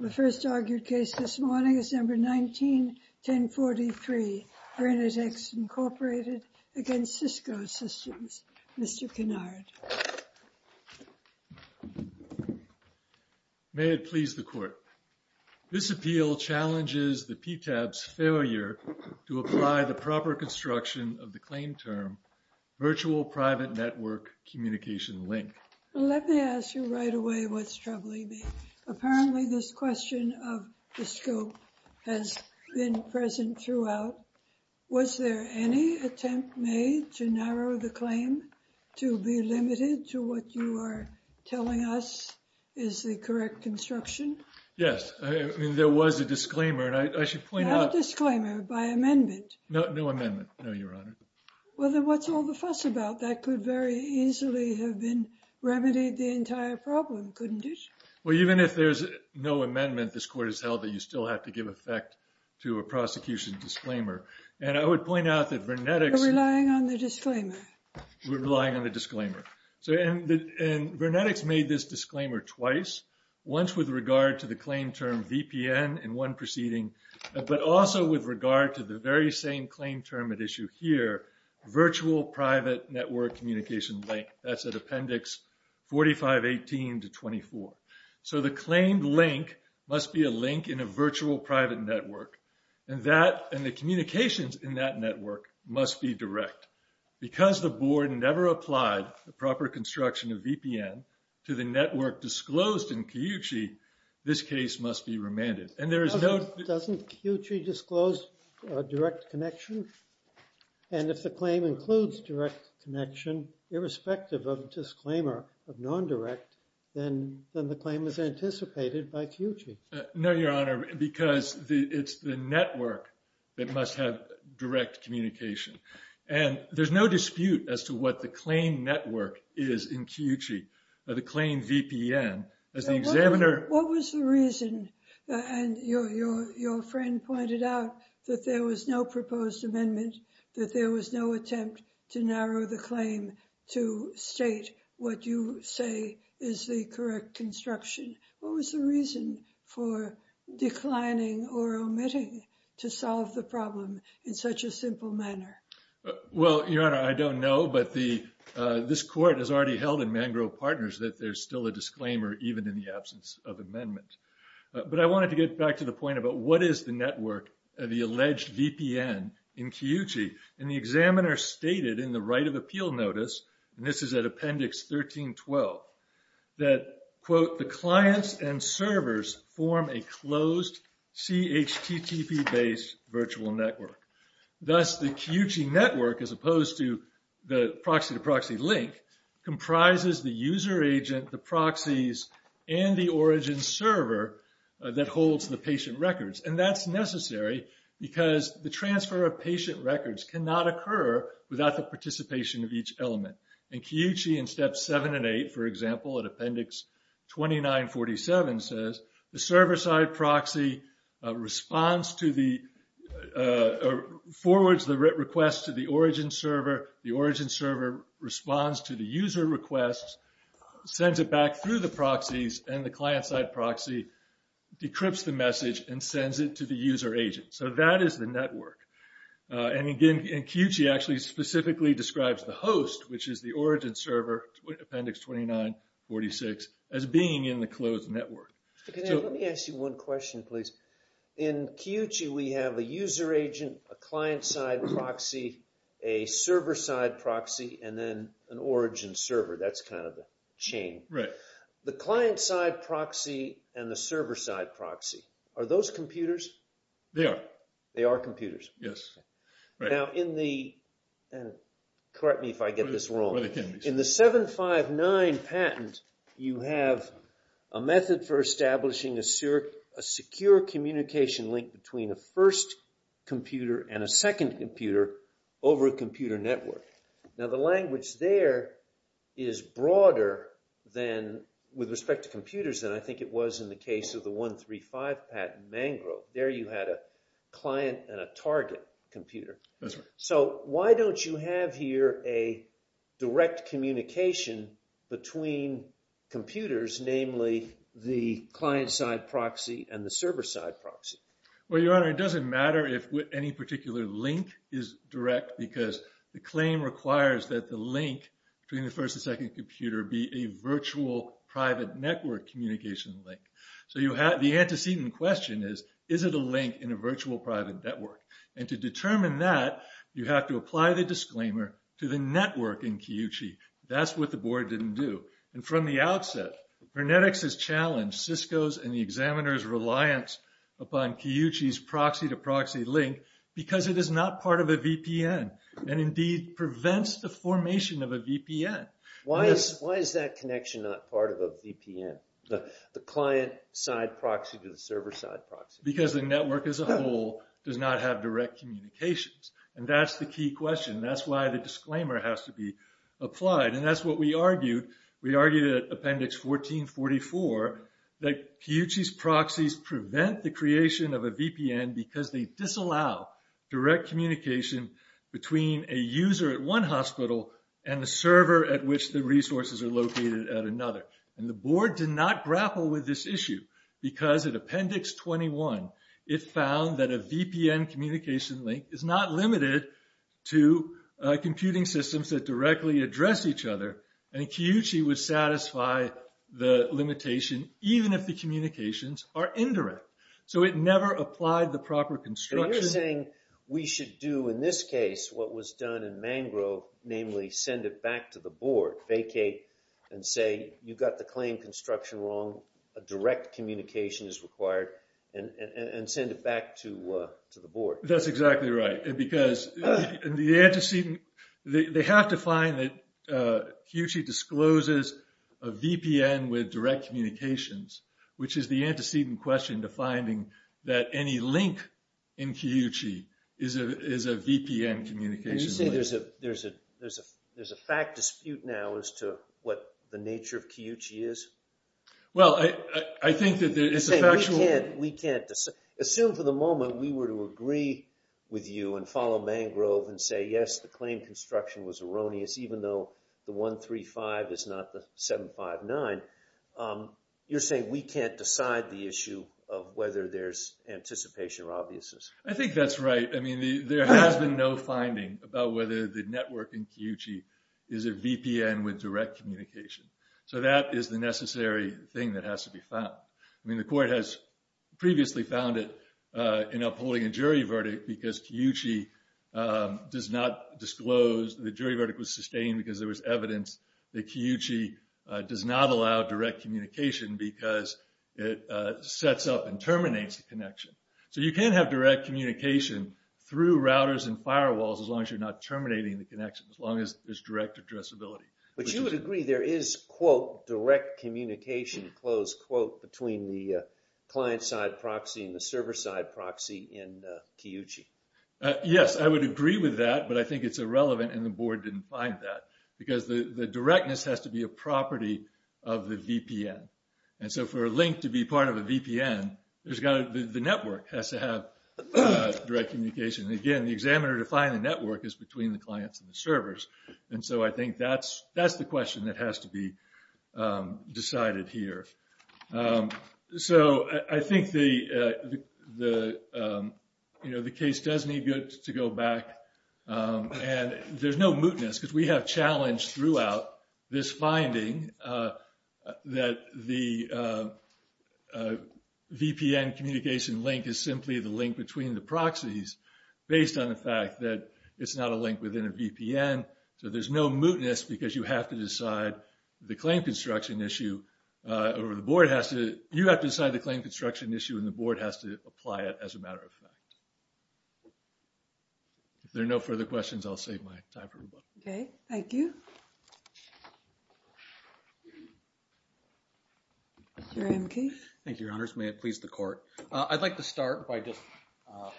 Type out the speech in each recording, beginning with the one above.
The first argued case this morning, December 19, 1043, VernetX, Inc. v. Cisco Systems. Mr. Kennard. May it please the Court. This appeal challenges the PTAP's failure to apply the proper construction of the claim term Virtual Private Network Communication Link. Let me ask you right away what's troubling me. Apparently this question of the scope has been present throughout. Was there any attempt made to narrow the claim to be limited to what you are telling us is the correct construction? Yes, there was a disclaimer, and I should point out... Not a disclaimer, by amendment. No, no amendment, no, Your Honor. Well, then what's all the fuss about? That could very easily have been... remedied the entire problem, couldn't it? Well, even if there's no amendment, this Court has held that you still have to give effect to a prosecution disclaimer. And I would point out that VernetX... We're relying on the disclaimer. We're relying on the disclaimer. And VernetX made this disclaimer twice, once with regard to the claim term VPN in one proceeding, but also with regard to the very same claim term at issue here, virtual private network communication link. That's at Appendix 4518 to 24. So the claimed link must be a link in a virtual private network, and the communications in that network must be direct. Because the Board never applied the proper construction of VPN to the network disclosed in Chiuchi, this case must be remanded. And there is no... Doesn't Chiuchi disclose direct connection? And if the claim includes direct connection, irrespective of the disclaimer of non-direct, then the claim is anticipated by Chiuchi. No, Your Honor, because it's the network that must have direct communication. And there's no dispute as to what the claimed network is in Chiuchi, the claimed VPN. As the examiner... What was the reason... And your friend pointed out that there was no proposed amendment, that there was no attempt to narrow the claim to state what you say is the correct construction. What was the reason for declining or omitting to solve the problem in such a simple manner? Well, Your Honor, I don't know, but this Court has already held in Mangrove Partners that there's still a disclaimer even in the absence of amendment. But I wanted to get back to the point about what is the network, the alleged VPN in Chiuchi. And the examiner stated in the right of appeal notice, and this is at Appendix 1312, that, quote, the clients and servers form a closed CHTTP-based virtual network. Thus, the Chiuchi network, as opposed to the proxy-to-proxy link, comprises the user agent, the proxies, and the origin server that holds the patient records. And that's necessary because the transfer of patient records cannot occur without the participation of each element. And Chiuchi, in Steps 7 and 8, for example, in Appendix 2947, says the server-side proxy responds to the... forwards the request to the origin server, the origin server responds to the user request, sends it back through the proxies, and the client-side proxy decrypts the message and sends it to the user agent. So that is the network. And again, Chiuchi actually specifically describes the host, which is the origin server, Appendix 2946, as being in the closed network. Let me ask you one question, please. In Chiuchi, we have a user agent, a client-side proxy, a server-side proxy, and then an origin server. That's kind of the chain. The client-side proxy and the server-side proxy, are those computers? They are. They are computers. Yes. Now in the... and correct me if I get this wrong. In the 759 patent, you have a method for establishing a secure communication link between a first computer and a second computer over a computer network. Now the language there is broader than... with respect to computers than I think it was in the case of the 135 patent, Mangrove. There you had a client and a target computer. That's right. So why don't you have here a direct communication between computers, namely the client-side proxy and the server-side proxy? Well, Your Honor, it doesn't matter if any particular link is direct because the claim requires that the link between the first and second computer be a virtual private network communication link. So you have... the antecedent question is, is it a link in a virtual private network? And to determine that, you have to apply the disclaimer to the network in Kiyuchi. That's what the board didn't do. And from the outset, Vernetix has challenged Cisco's and the examiner's reliance upon Kiyuchi's proxy-to-proxy link because it is not part of a VPN and indeed prevents the formation of a VPN. Why is that connection not part of a VPN? The client-side proxy to the server-side proxy? Because the network as a whole does not have direct communications. And that's the key question. That's why the disclaimer has to be applied. And that's what we argued. We argued at Appendix 1444 that Kiyuchi's proxies prevent the creation of a VPN because they disallow direct communication between a user at one hospital and the server at which the resources are located at another. And the board did not grapple with this issue because at Appendix 21, it found that a VPN communication link is not limited to computing systems that directly address each other and Kiyuchi would satisfy the limitation even if the communications are indirect. So it never applied the proper construction. But you're saying we should do in this case what was done in Mangrove, namely send it back to the board, vacate and say, you got the claim construction wrong. A direct communication is required and send it back to the board. That's exactly right. And because the antecedent, they have to find that Kiyuchi discloses a VPN with direct communications, which is the antecedent question to finding that any link in Kiyuchi is a VPN communication link. You're saying there's a fact dispute now as to what the nature of Kiyuchi is? Well, I think that it's a factual... You're saying we can't... Assume for the moment we were to agree with you and follow Mangrove and say, yes, the claim construction was erroneous even though the 135 is not the 759. You're saying we can't decide the issue of whether there's anticipation or obviousness. I think that's right. I mean, there has been no finding about whether the network in Kiyuchi is a VPN with direct communication. So that is the necessary thing that has to be found. I mean, the court has previously found it in upholding a jury verdict The jury verdict was sustained because there was evidence that Kiyuchi does not allow direct communication because it sets up and terminates the connection. So you can't have direct communication through routers and firewalls as long as you're not terminating the connection, as long as there's direct addressability. But you would agree there is, quote, direct communication, close quote, between the client-side proxy and the server-side proxy in Kiyuchi? Yes, I would agree with that, but I think it's irrelevant and the board didn't find that because the directness has to be a property of the VPN. And so for a link to be part of a VPN, the network has to have direct communication. And again, the examiner to find the network is between the clients and the servers. And so I think that's the question that has to be decided here. So I think the case does need to go back. And there's no mootness because we have challenged throughout this finding that the VPN communication link is simply the link between the proxies based on the fact that it's not a link within a VPN. So there's no mootness because you have to decide the claim construction issue or the board has to, you have to decide the claim construction issue and the board has to apply it as a matter of fact. If there are no further questions, I'll save my time for the book. Okay, thank you. Your honor. Thank you, your honors. May it please the court. I'd like to start by just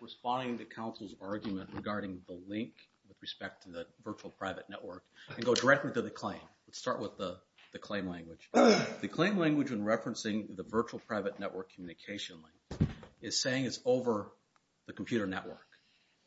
responding to counsel's argument regarding the link with respect to the virtual private network and go directly to the claim. Let's start with the claim language. The claim language in referencing the virtual private network communication link is saying it's over the computer network.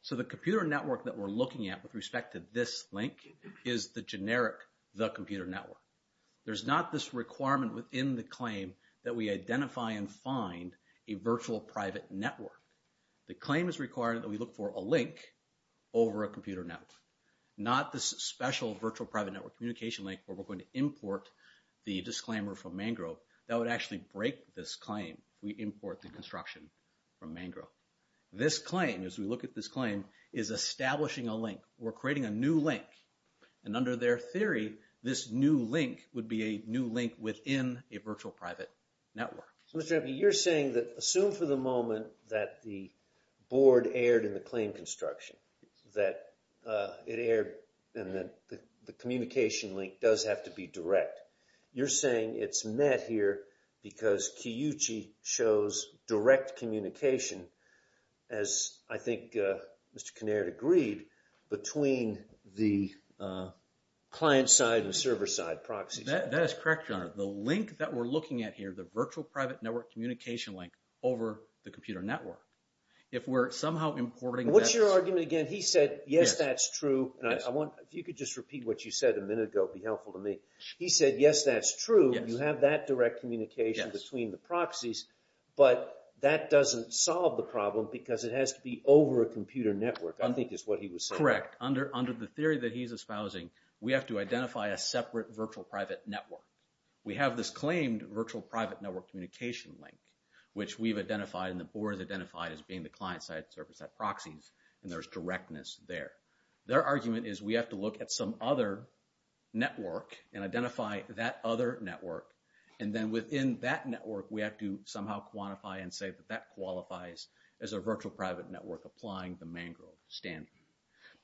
So the computer network that we're looking at with respect to this link is the generic, the computer network. There's not this requirement within the claim that we identify and find a virtual private network. The claim is required that we look for a link over a computer network. Not this special virtual private network communication link where we're going to import the disclaimer from Mangrove. That would actually break this claim if we import the construction from Mangrove. This claim, as we look at this claim, is establishing a link. We're creating a new link. And under their theory, this new link would be a new link within a virtual private network. So Mr. Empey, you're saying that, assume for the moment that the board erred in the claim construction. That it erred and that the communication link does have to be direct. You're saying it's met here because Kiyuchi shows direct communication as I think Mr. Kinnaird agreed, between the client side and server side proxies. That is correct, Your Honor. The link that we're looking at here, the virtual private network communication link over the computer network. If we're somehow importing... What's your argument again? He said, yes, that's true. If you could just repeat what you said a minute ago, it would be helpful to me. He said, yes, that's true. You have that direct communication between the proxies, but that doesn't solve the problem because it has to be over a computer network, I think is what he was saying. Correct. Under the theory that he's espousing, we have to identify a separate virtual private network. We have this claimed virtual private network communication link, which we've identified and the board has identified as being the client side and server side proxies. And there's directness there. Their argument is we have to look at some other network and identify that other network. And then within that network, we have to somehow quantify and say that that qualifies as a virtual private network applying the Mangrove standard.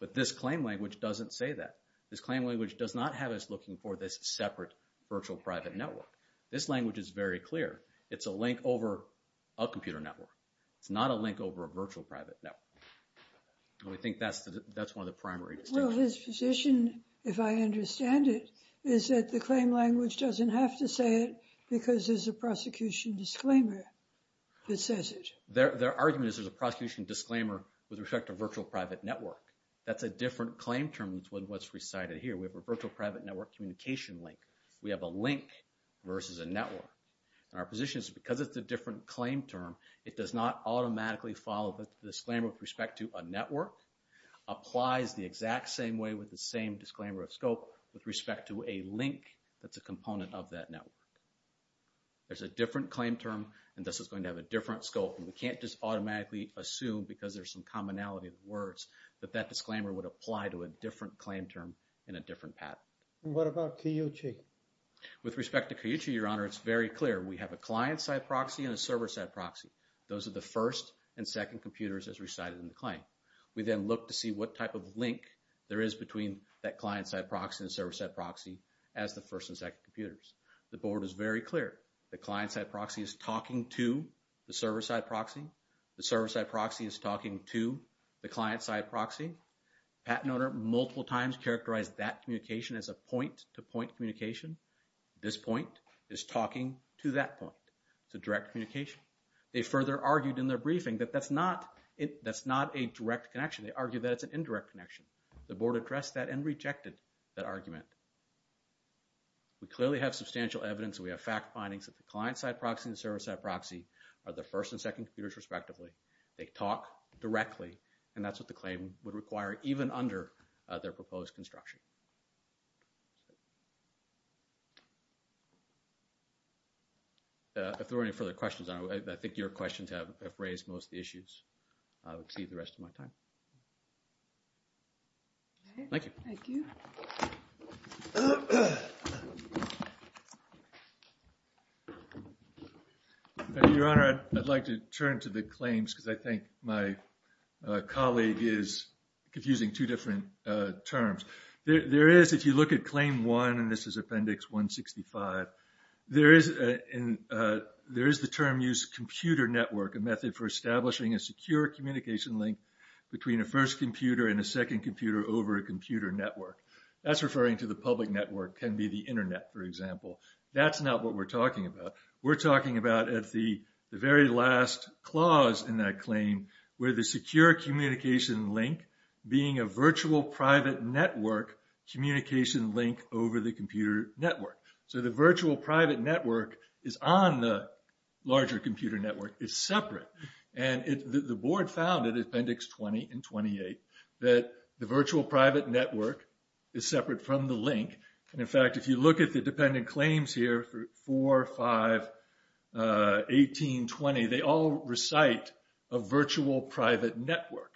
But this claim language doesn't say that. This claim language does not have us looking for this separate virtual private network. This language is very clear. It's a link over a computer network. It's not a link over a virtual private network. And we think that's one of the primary distinctions. Well, his position, if I understand it, is that the claim language doesn't have to say it because there's a prosecution disclaimer that says it. Their argument is there's a prosecution disclaimer with respect to virtual private network. That's a different claim term than what's recited here. We have a virtual private network communication link. We have a link versus a network. And our position is because it's a different claim term, it does not automatically follow the disclaimer with respect to a network, applies the exact same way with the same disclaimer of scope with respect to a link that's a component of that network. There's a different claim term, and this is going to have a different scope. And we can't just automatically assume, because there's some commonality of words, that that disclaimer would apply to a different claim term in a different pattern. And what about Cuyuchi? With respect to Cuyuchi, Your Honor, it's very clear. We have a client-side proxy and a server-side proxy. Those are the first and second computers as recited in the claim. We then look to see what type of link there is between that client-side proxy and the server-side proxy as the first and second computers. The Board is very clear. The client-side proxy is talking to the server-side proxy. The server-side proxy is talking to the client-side proxy. Patent owner multiple times characterized that communication as a point-to-point communication. This point is talking to that point. It's a direct communication. They further argued in their briefing that that's not a direct connection. They argue that it's an indirect connection. The Board addressed that and rejected that argument. We clearly have substantial evidence. We have fact findings that the client-side proxy and the server-side proxy are the first and second computers respectively. They talk directly, and that's what the claim would require even under their proposed construction. If there are any further questions, I think your questions have raised most issues. I'll exceed the rest of my time. Thank you. Your Honor, I'd like to turn to the claims because I think my colleague is confusing two different terms. There is, if you look at Claim 1, and this is Appendix 165, there is the term used, computer network, a method for establishing a secure communication link between a first computer and a second computer over a computer network. That's referring to the public network, can be the Internet, for example. That's not what we're talking about. We're talking about at the very last clause in that claim where the secure communication link, being a virtual private network communication link over the computer network. So the virtual private network is on the larger computer network, is separate. And the Board found in Appendix 20 and 28 that the virtual private network is separate from the link. And in fact, if you look at the dependent claims here, 4, 5, 18, 20, they all recite a virtual private network.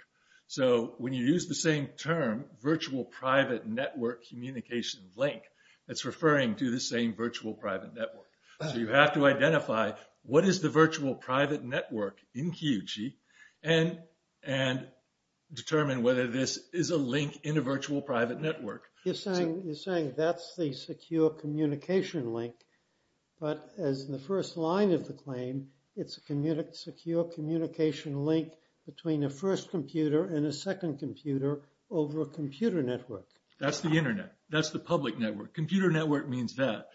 So when you use the same term, virtual private network communication link, that's referring to the same virtual private network. So you have to identify, what is the virtual private network in QG and determine whether this is a link in a virtual private network. You're saying that's the secure communication link, but as the first line of the claim, it's a secure communication link between a first computer and a second computer over a computer network. That's the Internet. That's the public network. Computer network means that.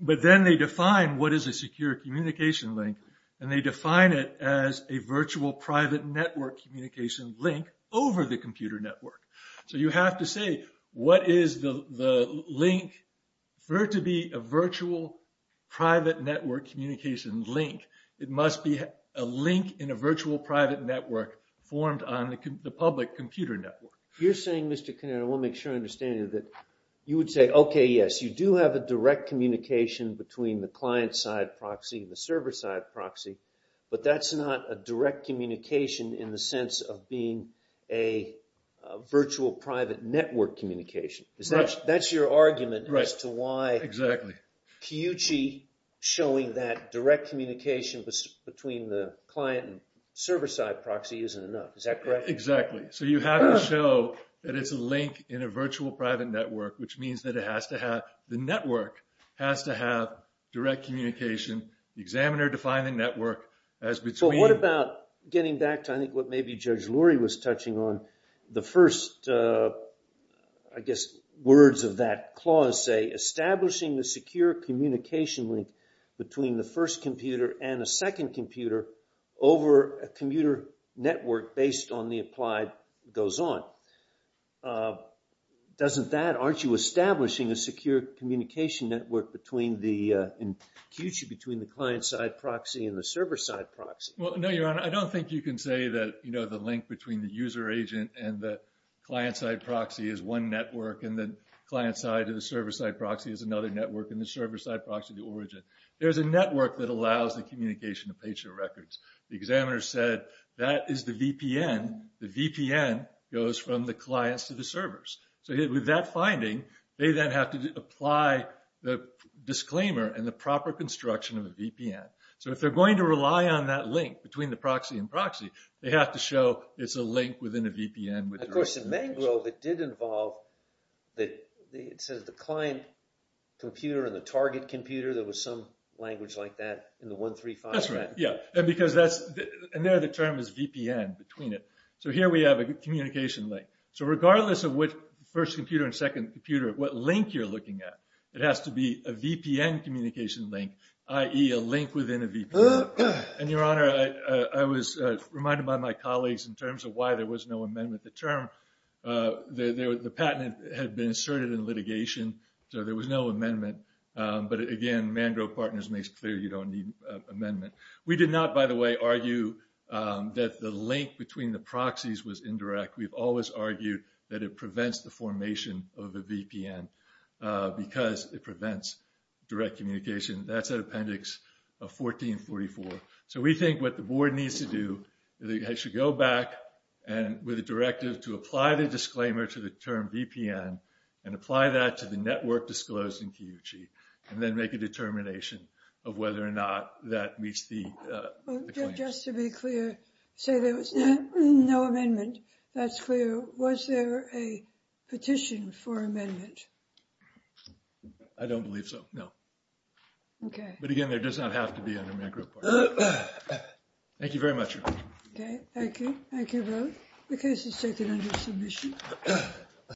But then they define what is a secure communication link and they define it as a virtual private network communication link over the computer network. So you have to say, what is the link referred to be a virtual private network communication link? It must be a link in a virtual private network formed on the public computer network. You're saying, Mr. Conner, I want to make sure I understand you, that you would say, okay, yes, you do have a direct communication between the client-side proxy and the server-side proxy, but that's not a direct communication in the sense of being a virtual private network communication. That's your argument as to why QG showing that direct communication between the client and server-side proxy isn't enough. Is that correct? Exactly. So you have to show that it's a link in a virtual private network, which means that it has to have, the network has to have direct communication. The examiner defined the network as between. But what about getting back to, I think, what maybe Judge Lurie was touching on, the first, I guess, words of that clause say, establishing the secure communication link between the first computer and the second computer over a computer network based on the applied goes on. Doesn't that, aren't you establishing a secure communication network in QG between the client-side proxy and the server-side proxy? Well, no, Your Honor, I don't think you can say that the link between the user agent and the client-side proxy is one network and the client-side and the server-side proxy is another network and the server-side proxy, the origin. There's a network that allows the communication of patient records. The examiner said, that is the VPN. The VPN goes from the clients to the servers. So with that finding, they then have to apply the disclaimer and the proper construction of a VPN. So if they're going to rely on that link between the proxy and proxy, they have to show it's a link within a VPN. Of course, in Mangrove, it did involve, it says the client computer and the target computer, there was some language like that in the 135. That's right, yeah. And because that's, and there the term is VPN, between it. So here we have a communication link. So regardless of which first computer and second computer, what link you're looking at, it has to be a VPN communication link, i.e. a link within a VPN. And Your Honor, I was reminded by my colleagues in terms of why there was no amendment. The term, the patent had been inserted in litigation, so there was no amendment. But again, Mangrove Partners makes clear you don't need amendment. We did not, by the way, argue that the link between the proxies was indirect. We've always argued that it prevents the formation of a VPN because it prevents direct communication. That's an appendix of 1444. So we think what the board needs to do, they should go back with a directive to apply the disclaimer to the term VPN and apply that to the network disclosed in Kiyuchi and then make a determination of whether or not that meets the claims. Just to be clear, say there was no amendment. That's clear. Was there a petition for amendment? I don't believe so, no. Okay. But again, there does not have to be under Mangrove Partners. Thank you very much, Your Honor. Okay, thank you. Thank you both. The case is taken under submission.